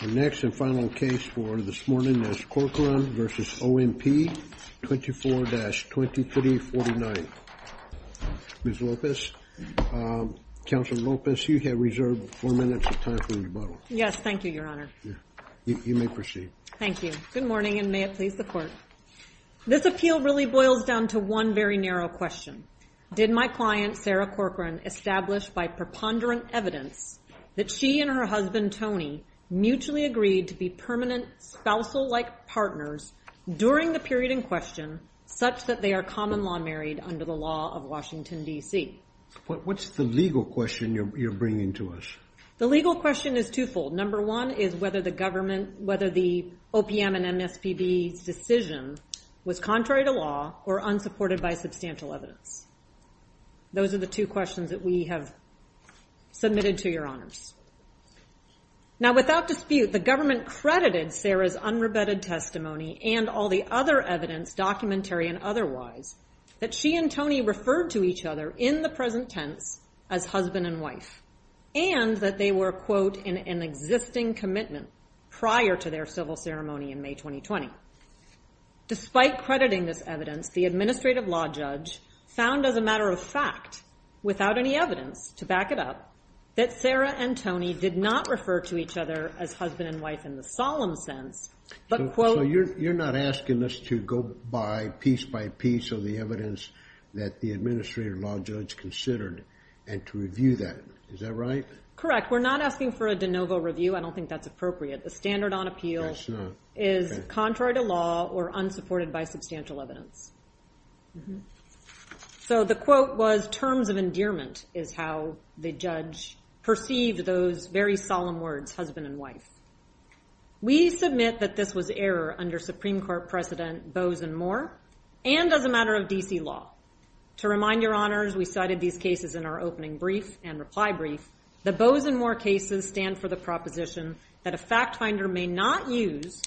The next and final case for this morning is Corcoran v. OMP, 24-2349. Ms. Lopez, Counselor Lopez, you have reserved four minutes of time for rebuttal. Yes, thank you, Your Honor. You may proceed. Thank you. Good morning, and may it please the Court. This appeal really boils down to one very narrow question. Did my client, Sarah Corcoran, establish by preponderant evidence that she and her husband, Tony, mutually agreed to be permanent spousal-like partners during the period in question such that they are common-law married under the law of Washington, D.C.? What's the legal question you're bringing to us? The legal question is twofold. Number one is whether the government, whether the OPM and MSPB's decision was contrary to law or unsupported by substantial evidence. Those are the two questions that we have submitted to Your Honors. Now, without dispute, the government credited Sarah's unrebutted testimony and all the other evidence, documentary and otherwise, that she and Tony referred to each other in the present tense as husband and wife, and that they were, quote, in an existing commitment prior to their civil ceremony in May 2020. Now, despite crediting this evidence, the administrative law judge found as a matter of fact, without any evidence to back it up, that Sarah and Tony did not refer to each other as husband and wife in the solemn sense, but, quote... So you're not asking us to go by piece by piece of the evidence that the administrative law judge considered and to review that. Is that right? Correct. We're not asking for a de novo review. I don't think that's appropriate. The standard on appeal is contrary to law or unsupported by substantial evidence. So the quote was, terms of endearment is how the judge perceived those very solemn words, husband and wife. We submit that this was error under Supreme Court precedent, Bose and Moore, and as a matter of D.C. law. To remind Your Honors, we cited these cases in our opening brief and reply brief. The Bose and Moore cases stand for the proposition that a fact finder may not use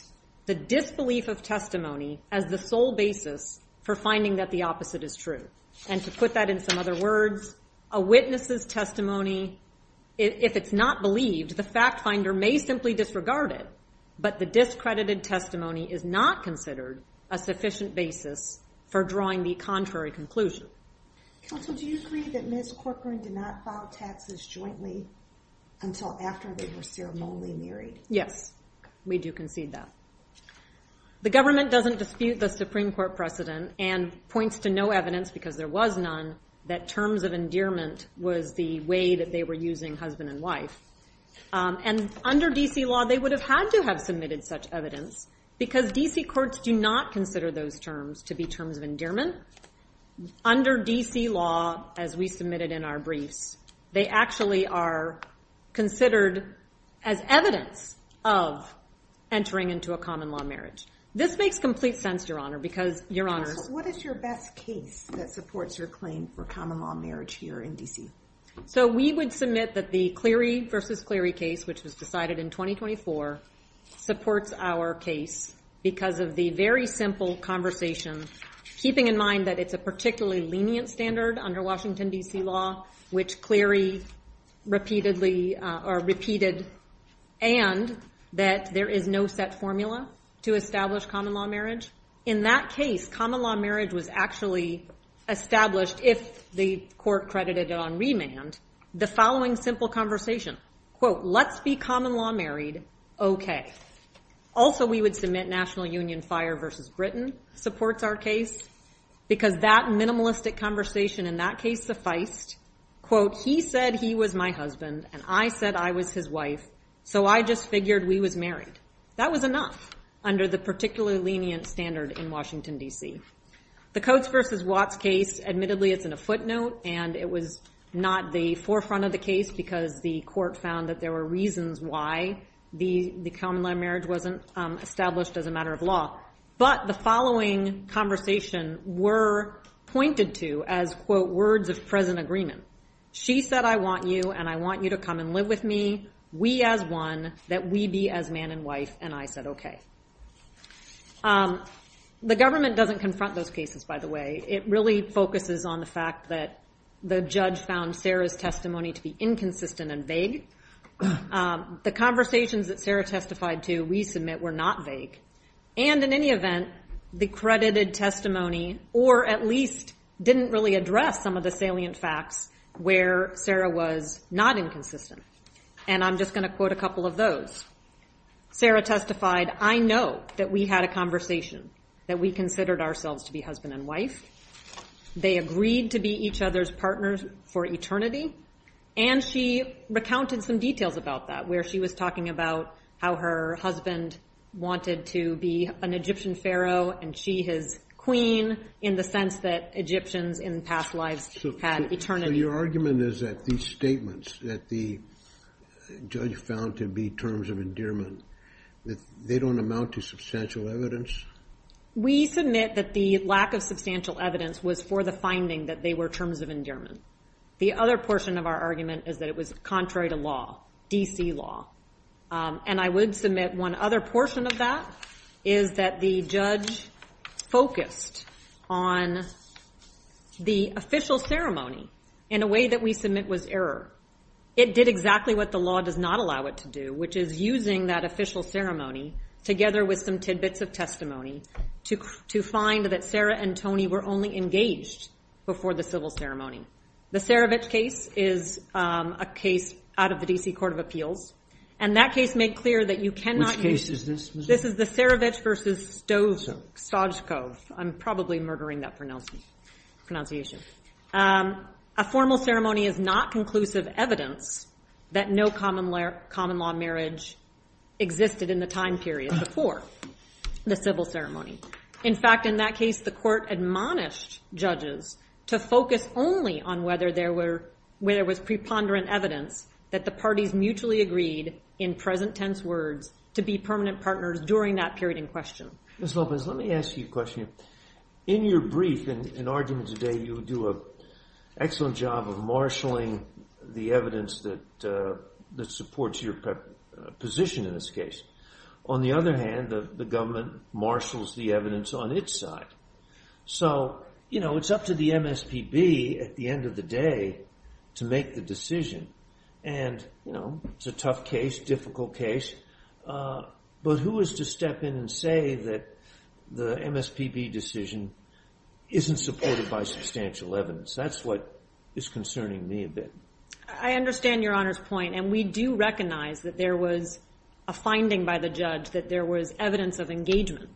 the disbelief of testimony as the sole basis for finding that the opposite is true. And to put that in some other words, a witness's testimony, if it's not believed, the fact finder may simply disregard it, but the discredited testimony is not considered a sufficient basis for drawing the contrary conclusion. Counsel, do you agree that Ms. Corcoran did not file taxes jointly until after they were ceremonially married? Yes, we do concede that. The government doesn't dispute the Supreme Court precedent and points to no evidence, because there was none, that terms of endearment was the way that they were using husband and wife. And under D.C. law, they would have had to have submitted such evidence because D.C. courts do not consider those terms to be terms of endearment. Under D.C. law, as we submitted in our briefs, they actually are considered as evidence of entering into a common law marriage. This makes complete sense, Your Honor, because, Your Honors. What is your best case that supports your claim for common law marriage here in D.C.? So we would submit that the Cleary v. Cleary case, which was decided in 2024, supports our case because of the very simple conversation, keeping in mind that it's a particularly lenient standard under Washington, D.C. law, which Cleary repeatedly, or repeated, and that there is no set formula to establish common law marriage. In that case, common law marriage was actually established if the court credited it on remand. The following simple conversation, quote, let's be common law married, okay. Also, we would submit National Union Fire v. Britain supports our case because that minimalistic conversation in that case sufficed. Quote, he said he was my husband, and I said I was his wife, so I just figured we was married. That was enough under the particularly lenient standard in Washington, D.C. The Coates v. Watts case, admittedly, it's in a footnote, and it was not the forefront of the case because the court found that there were reasons why the common law marriage wasn't established as a matter of law. But the following conversation were pointed to as, quote, words of present agreement. She said I want you, and I want you to come and live with me, we as one, that we be as man and wife, and I said okay. The government doesn't confront those cases, by the way. It really focuses on the fact that the judge found Sarah's testimony to be inconsistent and vague. The conversations that Sarah testified to, we submit, were not vague. And in any event, the credited testimony, or at least didn't really address some of the salient facts where Sarah was not inconsistent. And I'm just going to quote a couple of those. Sarah testified, I know that we had a conversation, that we considered ourselves to be husband and wife. They agreed to be each other's partners for eternity. And she recounted some details about that, where she was talking about how her husband wanted to be an Egyptian pharaoh, and she his queen, in the sense that Egyptians in past lives had eternity. So your argument is that these statements that the judge found to be terms of endearment, that they don't amount to substantial evidence? We submit that the lack of substantial evidence was for the finding that they were terms of endearment. The other portion of our argument is that it was contrary to law, D.C. law. And I would submit one other portion of that is that the judge focused on the official ceremony in a way that we submit was error. It did exactly what the law does not allow it to do, which is using that official ceremony together with some tidbits of testimony to find that Sarah and Tony were only engaged before the civil ceremony. The Cerevich case is a case out of the D.C. Court of Appeals, and that case made clear that you cannot use... Which case is this? This is the Cerevich versus Stojkov. I'm probably murdering that pronunciation. A formal ceremony is not conclusive evidence that no common-law marriage existed in the time period before the civil ceremony. In fact, in that case, the court admonished judges to focus only on whether there was preponderant evidence that the parties mutually agreed, in present-tense words, to be permanent partners during that period in question. Ms. Melvin, let me ask you a question. In your brief and argument today, you do an excellent job of marshalling the evidence that supports your position in this case. On the other hand, the government marshals the evidence on its side. So, you know, it's up to the MSPB, at the end of the day, to make the decision. And, you know, it's a tough case, difficult case, but who is to step in and say that the MSPB decision isn't supported by substantial evidence? That's what is concerning me a bit. I understand Your Honor's point. And we do recognize that there was a finding by the judge that there was evidence of engagement.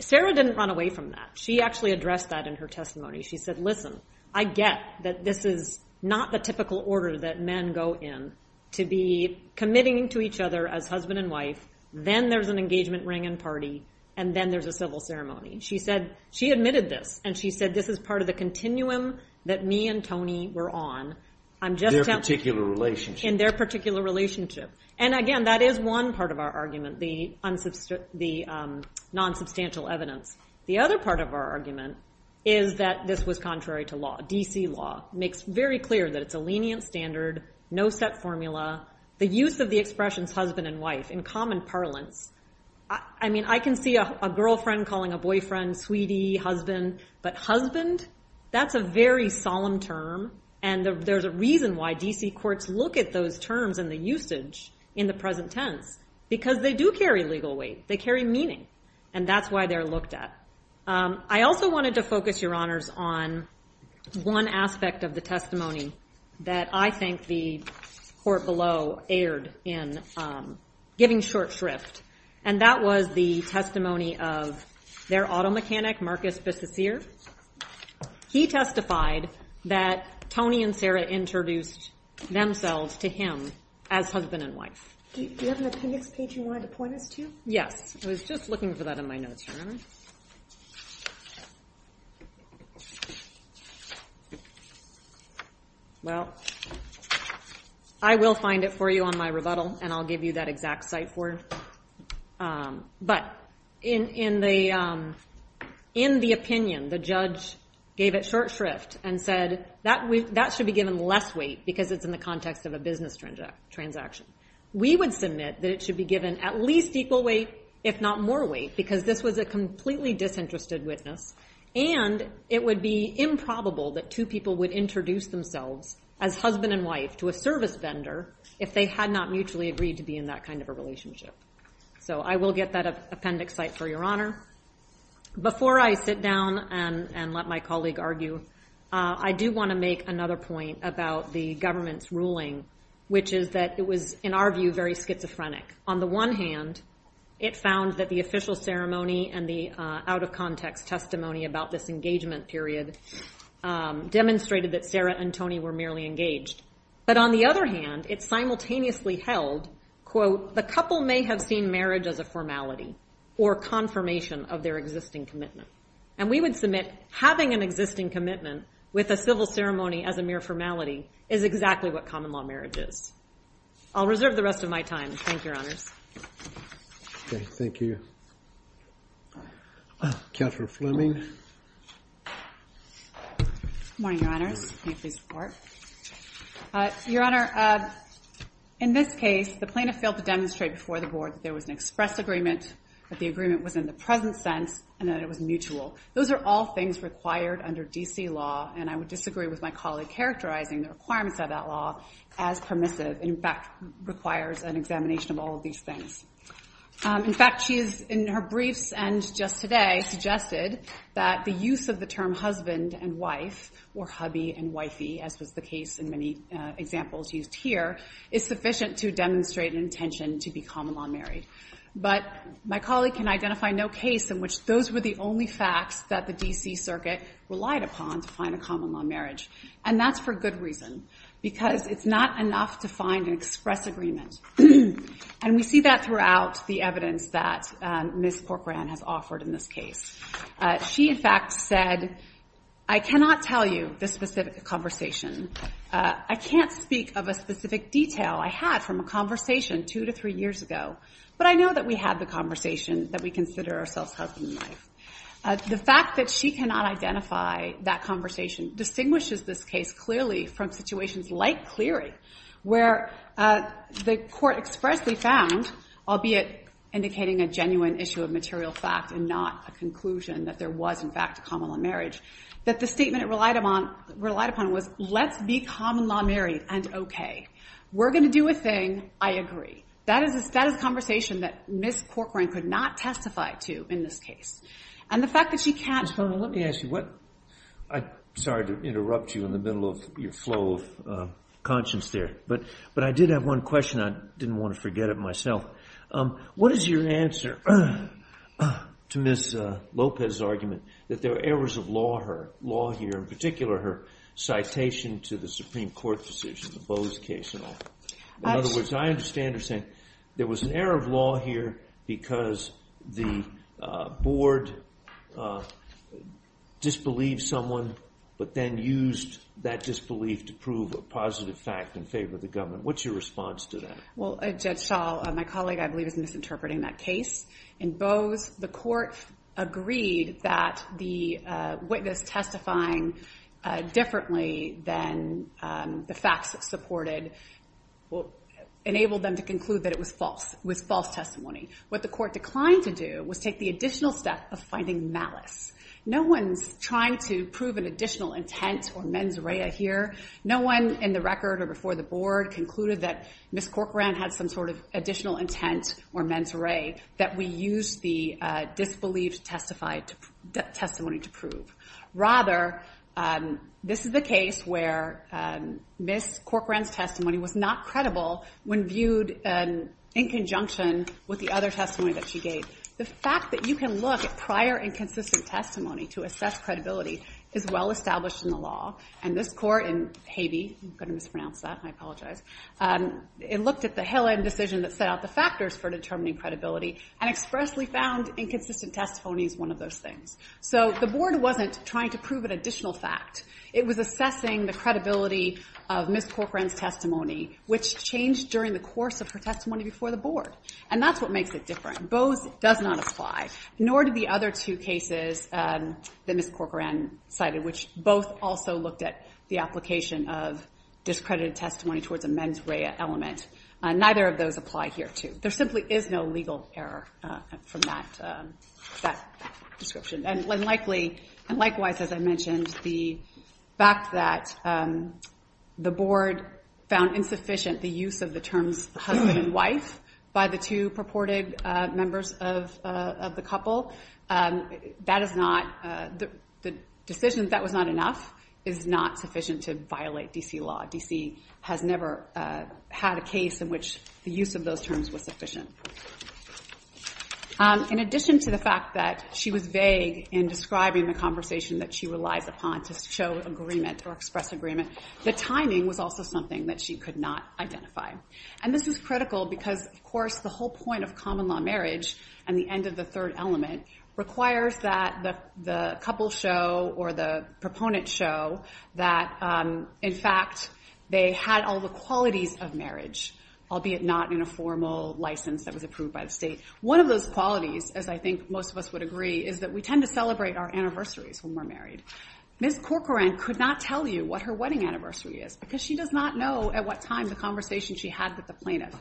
Sarah didn't run away from that. She actually addressed that in her testimony. She said, listen, I get that this is not the typical order that men go in to be committing to each other as husband and wife. Then there's an engagement ring and party. And then there's a civil ceremony. She said, she admitted this. And she said, this is part of the continuum that me and Tony were on. In their particular relationship. In their particular relationship. And again, that is one part of our argument, the non-substantial evidence. The other part of our argument is that this was contrary to law, DC law. Makes very clear that it's a lenient standard, no set formula. The use of the expressions husband and wife in common parlance. I mean, I can see a girlfriend calling a boyfriend sweetie husband, but husband? That's a very solemn term. And there's a reason why DC courts look at those terms and the usage in the present tense. Because they do carry legal weight. They carry meaning. And that's why they're looked at. I also wanted to focus, your honors, on one aspect of the testimony that I think the court below aired in giving short shrift. And that was the testimony of their auto mechanic, Marcus Bississier. He testified that Tony and Sarah introduced themselves to him as husband and wife. Do you have an appendix page you wanted to point us to? Yes. I was just looking for that in my notes, your honor. Well, I will find it for you on my rebuttal. And I'll give you that exact cite for it. But in the opinion, the judge gave it short shrift and said, that should be given less weight, because it's in the context of a business transaction. We would submit that it should be given at least equal weight, if not more weight, because this was a completely disinterested witness. And it would be improbable that two people would introduce themselves as husband and wife to a service vendor if they had not mutually agreed to be in that kind of a relationship. So I will get that appendix cite for your honor. Before I sit down and let my colleague argue, I do want to make another point about the government's ruling, which is that it was, in our view, very schizophrenic. On the one hand, it found that the official ceremony and the out of context testimony about this engagement period demonstrated that Sarah and Tony were merely engaged. But on the other hand, it simultaneously held, quote, the couple may have seen marriage as a formality or confirmation of their existing commitment. And we would submit, having an existing commitment with a civil ceremony as a mere formality is exactly what common law marriage is. I'll reserve the rest of my time. Thank you, your honors. Thank you. Catherine Fleming. Good morning, your honors. May I please report? All right. Your honor, in this case, the plaintiff failed to demonstrate before the board that there was an express agreement, that the agreement was in the present sense, and that it was mutual. Those are all things required under DC law. And I would disagree with my colleague characterizing the requirements of that law as permissive. And in fact, requires an examination of all of these things. In fact, she has, in her briefs and just today, suggested that the use of the term husband and wife, or hubby and wifey, as was the case in many examples used here, is sufficient to demonstrate an intention to be common law married. But my colleague can identify no case in which those were the only facts that the DC circuit relied upon to find a common law marriage. And that's for good reason. Because it's not enough to find an express agreement. And we see that throughout the evidence that Ms. Corcoran has offered in this case. She, in fact, said, I cannot tell you this specific conversation. I can't speak of a specific detail I had from a conversation two to three years ago. But I know that we had the conversation that we consider ourselves husband and wife. The fact that she cannot identify that conversation distinguishes this case clearly from situations like Cleary, where the court expressly found, albeit indicating a genuine issue of material fact and not a conclusion that there was, in fact, a common law marriage, that the statement it relied upon was, let's be common law married and OK. We're going to do a thing. I agree. That is a conversation that Ms. Corcoran could not testify to in this case. And the fact that she can't. Let me ask you, I'm sorry to interrupt you in the middle of your flow of conscience there. But I did have one question. I didn't want to forget it myself. What is your answer to Ms. Lopez's argument that there were errors of law here, in particular her citation to the Supreme Court decision, the Bose case and all? In other words, I understand her saying there was an error of law here because the board disbelieved someone, but then used that disbelief to prove a positive fact in favor of the government. What's your response to that? Well, Judge Schall, my colleague, I believe is misinterpreting that case. In Bose, the court agreed that the witness testifying differently than the facts supported enabled them to conclude that it was false testimony. What the court declined to do was take the additional step of finding malice. No one's trying to prove an additional intent or mens rea here. No one in the record or before the board concluded that Ms. Corcoran had some sort of additional intent or mens rea that we used the disbelieved testimony to prove. Rather, this is the case where Ms. Corcoran's testimony was not credible when viewed in conjunction with the other testimony that she gave. The fact that you can look at prior and consistent testimony to assess credibility is well-established in the law. And this court in Haguey, I'm going to mispronounce that. I apologize. It looked at the Hillen decision that set out the factors for determining credibility and expressly found inconsistent testimony is one of those things. So the board wasn't trying to prove an additional fact. It was assessing the credibility of Ms. Corcoran's testimony, which changed during the course of her testimony before the board. And that's what makes it different. Bose does not apply, nor do the other two cases that Ms. Corcoran cited, which both also looked at the application of discredited testimony towards a mens rea element. Neither of those apply here, too. There simply is no legal error from that description. And likewise, as I mentioned, the fact that the board found insufficient the use of the terms husband and wife by the two purported members of the couple, the decision that was not enough is not sufficient to violate DC law. DC has never had a case in which the use of those terms was sufficient. In addition to the fact that she was vague in describing the conversation that she relies upon to show agreement or express agreement, the timing was also something that she could not identify. And this is critical because, of course, the whole point of common law marriage and the end of the third element requires that the couple show or the proponent show that, in fact, they had all the qualities of marriage, albeit not in a formal license that was approved by the state. One of those qualities, as I think most of us would agree, is that we tend to celebrate our anniversaries when we're married. Ms. Corcoran could not tell you what her wedding anniversary is because she does not know at what time the conversation she had with the plaintiff,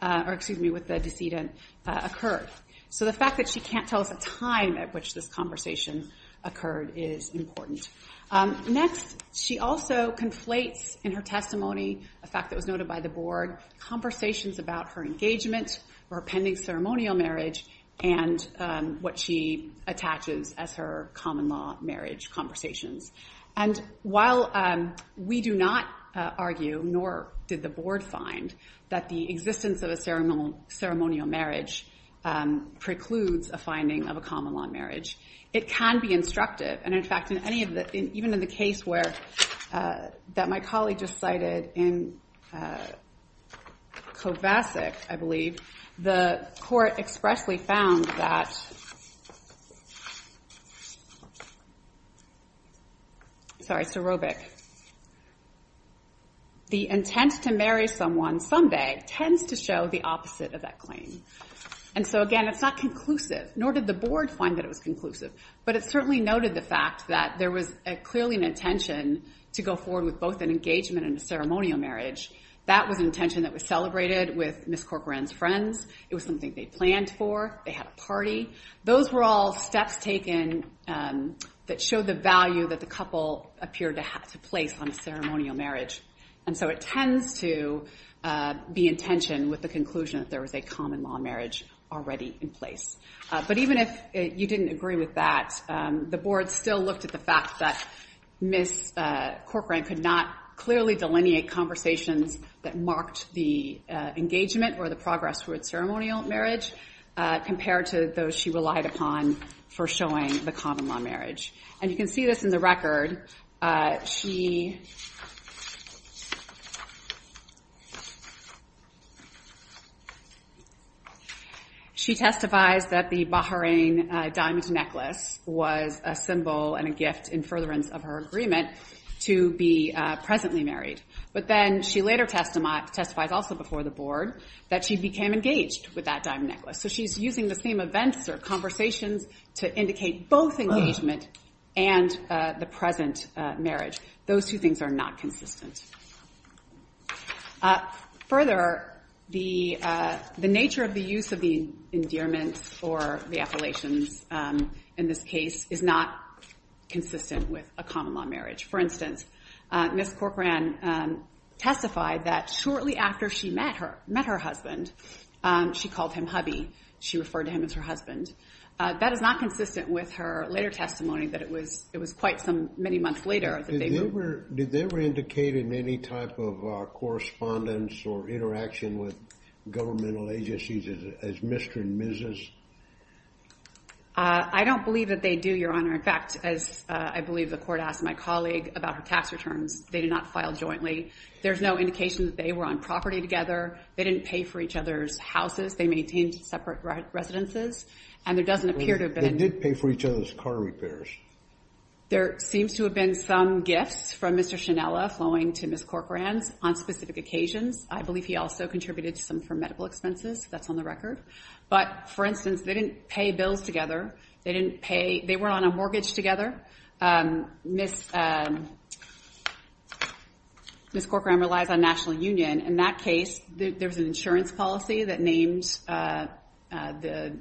or excuse me, with the decedent, occurred. So the fact that she can't tell us a time at which this conversation occurred is important. Next, she also conflates in her testimony, a fact that was noted by the board, conversations about her engagement, her pending ceremonial marriage, and what she attaches as her common law marriage conversations. And while we do not argue, nor did the board find, that the existence of a ceremonial marriage precludes a finding of a common law marriage, it can be instructive. And in fact, even in the case that my colleague just cited in Kovacic, I believe, the court expressly found that the intent to marry someone someday tends to show the opposite of that claim. And so again, it's not conclusive, nor did the board find that it was conclusive. But it certainly noted the fact that there was clearly an intention to go forward with both an engagement and a ceremonial marriage. That was an intention that was celebrated with Ms. Corcoran's friends. It was something they planned for. They had a party. Those were all steps taken that showed the value that the couple appeared to place on a ceremonial marriage. And so it tends to be in tension with the conclusion that there was a common law marriage already in place. But even if you didn't agree with that, the board still looked at the fact that Ms. Corcoran could not clearly delineate conversations that marked the engagement or the progress through its ceremonial marriage compared to those she relied upon for showing the common law marriage. And you can see this in the record. She testifies that the Bahrain diamond necklace was a symbol and a gift in furtherance of her agreement to be presently married. But then she later testifies also before the board that she became engaged with that diamond necklace. So she's using the same events or conversations to indicate both engagement and the present marriage. Those two things are not consistent. Further, the nature of the use of the endearments or the affilations in this case is not consistent with a common law marriage. For instance, Ms. Corcoran testified that shortly after she met her husband, she called him hubby. She referred to him as her husband. That is not consistent with her later testimony that it was quite some many months later that they were. Did they ever indicate in any type of correspondence or interaction with governmental agencies as Mr. and Mrs.? I don't believe that they do, Your Honor. In fact, as I believe the court asked my colleague about her tax returns, they did not file jointly. There's no indication that they were on property together. They didn't pay for each other's houses. They maintained separate residences. And there doesn't appear to have been any- They did pay for each other's car repairs. There seems to have been some gifts from Mr. Shinnella flowing to Ms. Corcoran's on specific occasions. I believe he also contributed some for medical expenses. That's on the record. But for instance, they didn't pay bills together. They didn't pay. They were on a mortgage together. Ms. Corcoran relies on National Union. In that case, there was an insurance policy that named the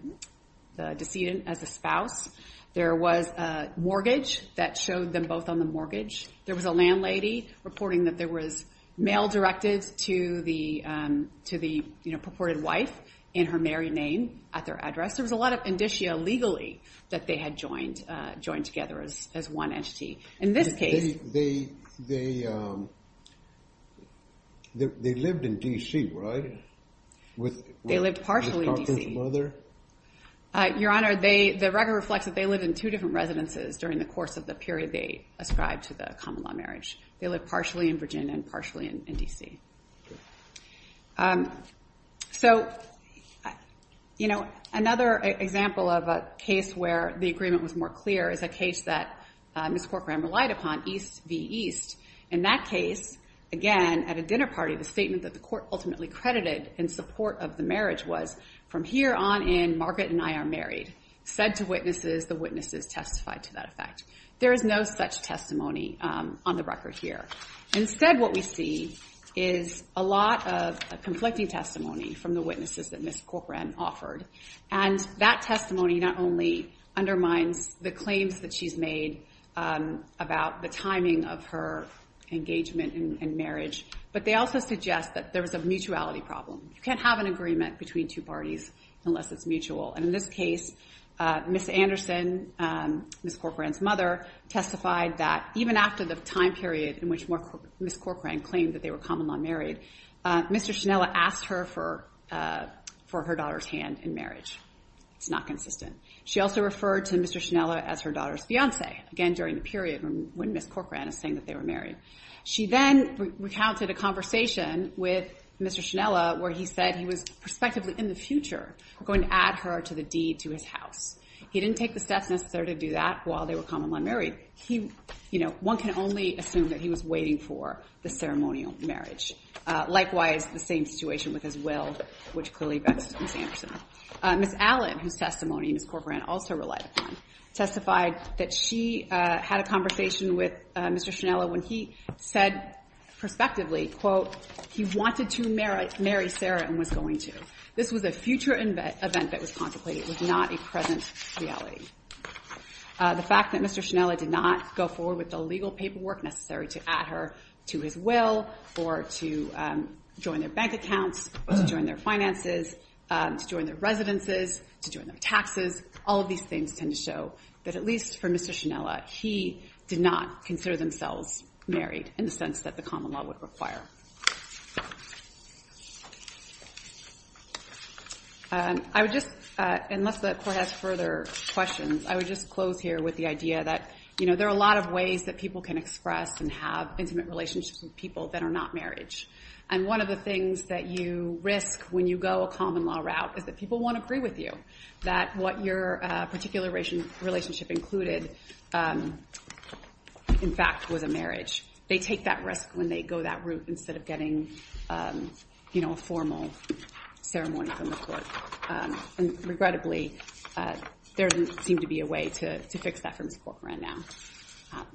decedent as a spouse. There was a mortgage that showed them both on the mortgage. There was a landlady reporting that there was mail directed to the purported wife in her married name at their address. There was a lot of indicia legally that they had joined together as one entity. In this case- They lived in DC, right? They lived partially in DC. With Ms. Corcoran's mother? Your Honor, the record reflects that they lived in two different residences during the course of the period they ascribed to the common law marriage. They lived partially in Virginia and partially in DC. So another example of a case where the agreement was more clear is a case that Ms. Corcoran relied upon, East v. East. In that case, again, at a dinner party, the statement that the court ultimately credited in support of the marriage was, from here on in, Margaret and I are married. Said to witnesses, the witnesses testified to that effect. There is no such testimony on the record here. Instead, what we see is a lot of conflicting testimony from the witnesses that Ms. Corcoran offered. And that testimony not only undermines the claims that she's made about the timing of her engagement in marriage, but they also suggest that there was a mutuality problem. You can't have an agreement between two parties unless it's mutual. And in this case, Ms. Anderson, Ms. Corcoran's mother, testified that even after the time period in which Ms. Corcoran claimed that they were common-law married, Mr. Shinnella asked her for her daughter's hand in marriage. It's not consistent. She also referred to Mr. Shinnella as her daughter's fiance, again, during the period when Ms. Corcoran is saying that they were married. She then recounted a conversation with Mr. Shinnella where he said he was prospectively, in the future, going to add her to the deed to his house. He didn't take the steps necessary to do that while they were common-law married. One can only assume that he was waiting for the ceremonial marriage. Likewise, the same situation with his will, which clearly vexed Ms. Anderson. Ms. Allen, whose testimony Ms. Corcoran also relied upon, testified that she had a conversation with Mr. Shinnella when he said prospectively, quote, he wanted to marry Sarah and was going to. This was a future event that was contemplated. It was not a present reality. The fact that Mr. Shinnella did not go forward with the legal paperwork necessary to add her to his will, or to join their bank accounts, or to join their finances, to join their residences, to join their taxes, all of these things tend to show that, at least for Mr. Shinnella, he did not consider themselves married in the sense that the common law would require. I would just, unless the court has further questions, I would just close here with the idea that there are a lot of ways that people can express and have intimate relationships with people that are not marriage. And one of the things that you risk when you go a common law route is that people won't agree with you that what your particular relationship included, in fact, was a marriage. They take that risk when they go that route and say, well, I'm not married. Instead of getting a formal ceremony from the court. And regrettably, there didn't seem to be a way to fix that for Mr. Corcoran now.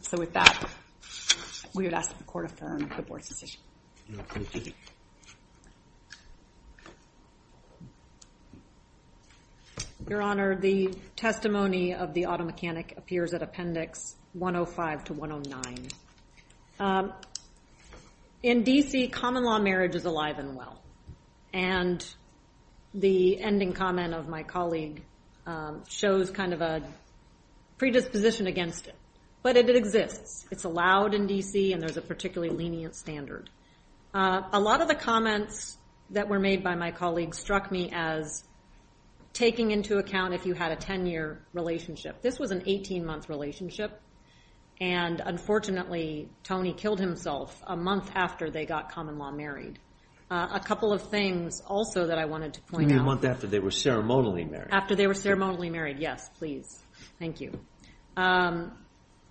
So with that, we would ask that the court affirm the board's decision. Thank you. Your Honor, the testimony of the auto mechanic appears at Appendix 105 to 109. In DC, common law marriage is alive and well. And the ending comment of my colleague shows kind of a predisposition against it. But it exists. It's allowed in DC. And there's a particularly lenient standard. A lot of the comments that were made by my colleague struck me as taking into account if you had a 10-year relationship. This was an 18-month relationship. And unfortunately, Tony killed himself a month after they got common law married. A couple of things, also, that I wanted to point out. A month after they were ceremonially married. After they were ceremonially married, yes, please. Thank you.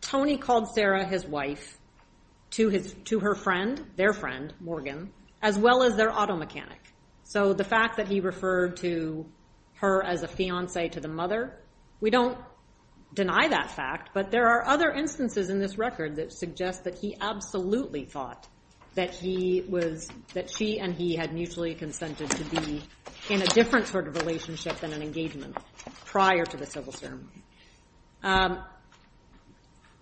Tony called Sarah, his wife, to her friend, their friend, Morgan, as well as their auto mechanic. So the fact that he referred to her as a fiance to the mother, we don't deny that fact. But there are other instances in this record that suggest that he absolutely thought that she and he had mutually consented to be in a different sort of relationship than an engagement prior to the civil sermon.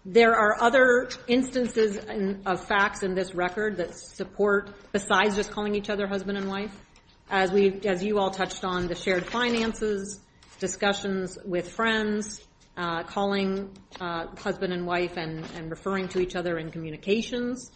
There are other instances of facts in this record that support, besides just calling each other husband and wife, as you all touched on, the shared finances, discussions with friends, calling husband and wife and referring to each other in communications.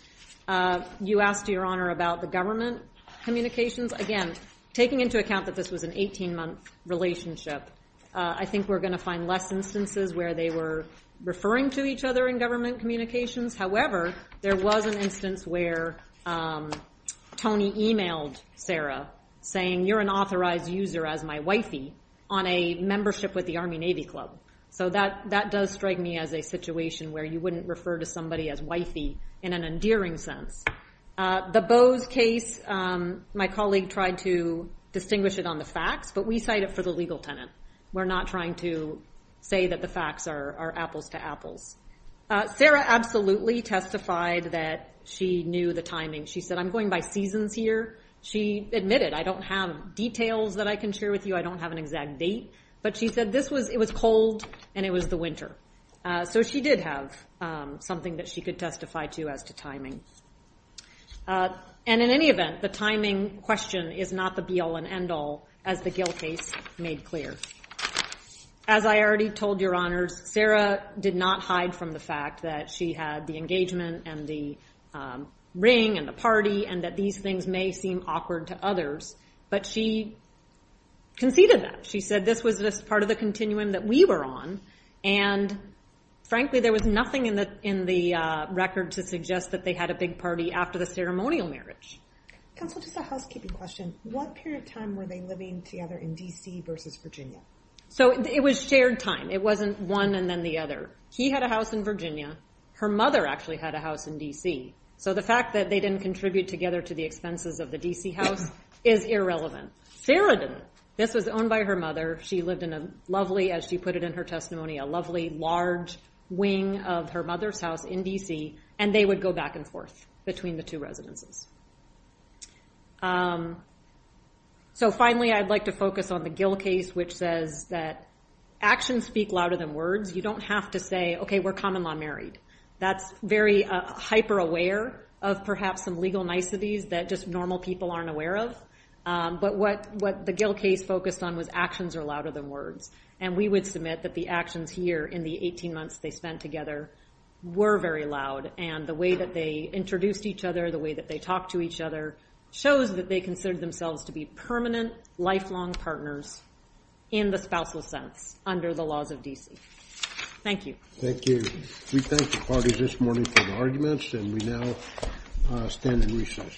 You asked, Your Honor, about the government communications. Again, taking into account that this was an 18-month relationship, I think we're going to find less instances where they were referring to each other in government communications. However, there was an instance where Tony emailed Sarah, saying you're an authorized user as my wifey on a membership with the Army-Navy Club. So that does strike me as a situation where you wouldn't refer to somebody as wifey in an endearing sense. The Bowes case, my colleague tried to distinguish it on the facts. But we cite it for the legal tenant. We're not trying to say that the facts are apples to apples. Sarah absolutely testified that she knew the timing. She said, I'm going by seasons here. She admitted, I don't have details that I can share with you. I don't have an exact date. But she said it was cold and it was the winter. So she did have something that she could testify to as to timing. And in any event, the timing question is not the be-all and end-all, as the Gill case made clear. As I already told, Your Honors, Sarah did not hide from the fact that she had the engagement and the ring and the party and that these things may seem awkward to others. But she conceded that. She said, this was just part of the continuum that we were on. And frankly, there was nothing in the record to suggest that they had a big party after the ceremonial marriage. Counsel, just a housekeeping question. What period of time were they living together in DC versus Virginia? So it was shared time. It wasn't one and then the other. He had a house in Virginia. Her mother actually had a house in DC. So the fact that they didn't contribute together to the expenses of the DC house is irrelevant. Sarah didn't. This was owned by her mother. She lived in a lovely, as she put it in her testimony, a lovely, large wing of her mother's house in DC. And they would go back and forth between the two residences. So finally, I'd like to focus on the Gill case, which says that actions speak louder than words. You don't have to say, OK, we're common law married. That's very hyper-aware of perhaps some legal niceties that just normal people aren't aware of. But what the Gill case focused on was actions are louder than words. And we would submit that the actions here, in the 18 months they spent together, were very loud. And the way that they introduced each other, the way that they talked to each other, shows that they considered themselves to be permanent, lifelong partners in the spousal sense under the laws of DC. Thank you. Thank you. We thank the parties this morning for the arguments. And we now stand in recess.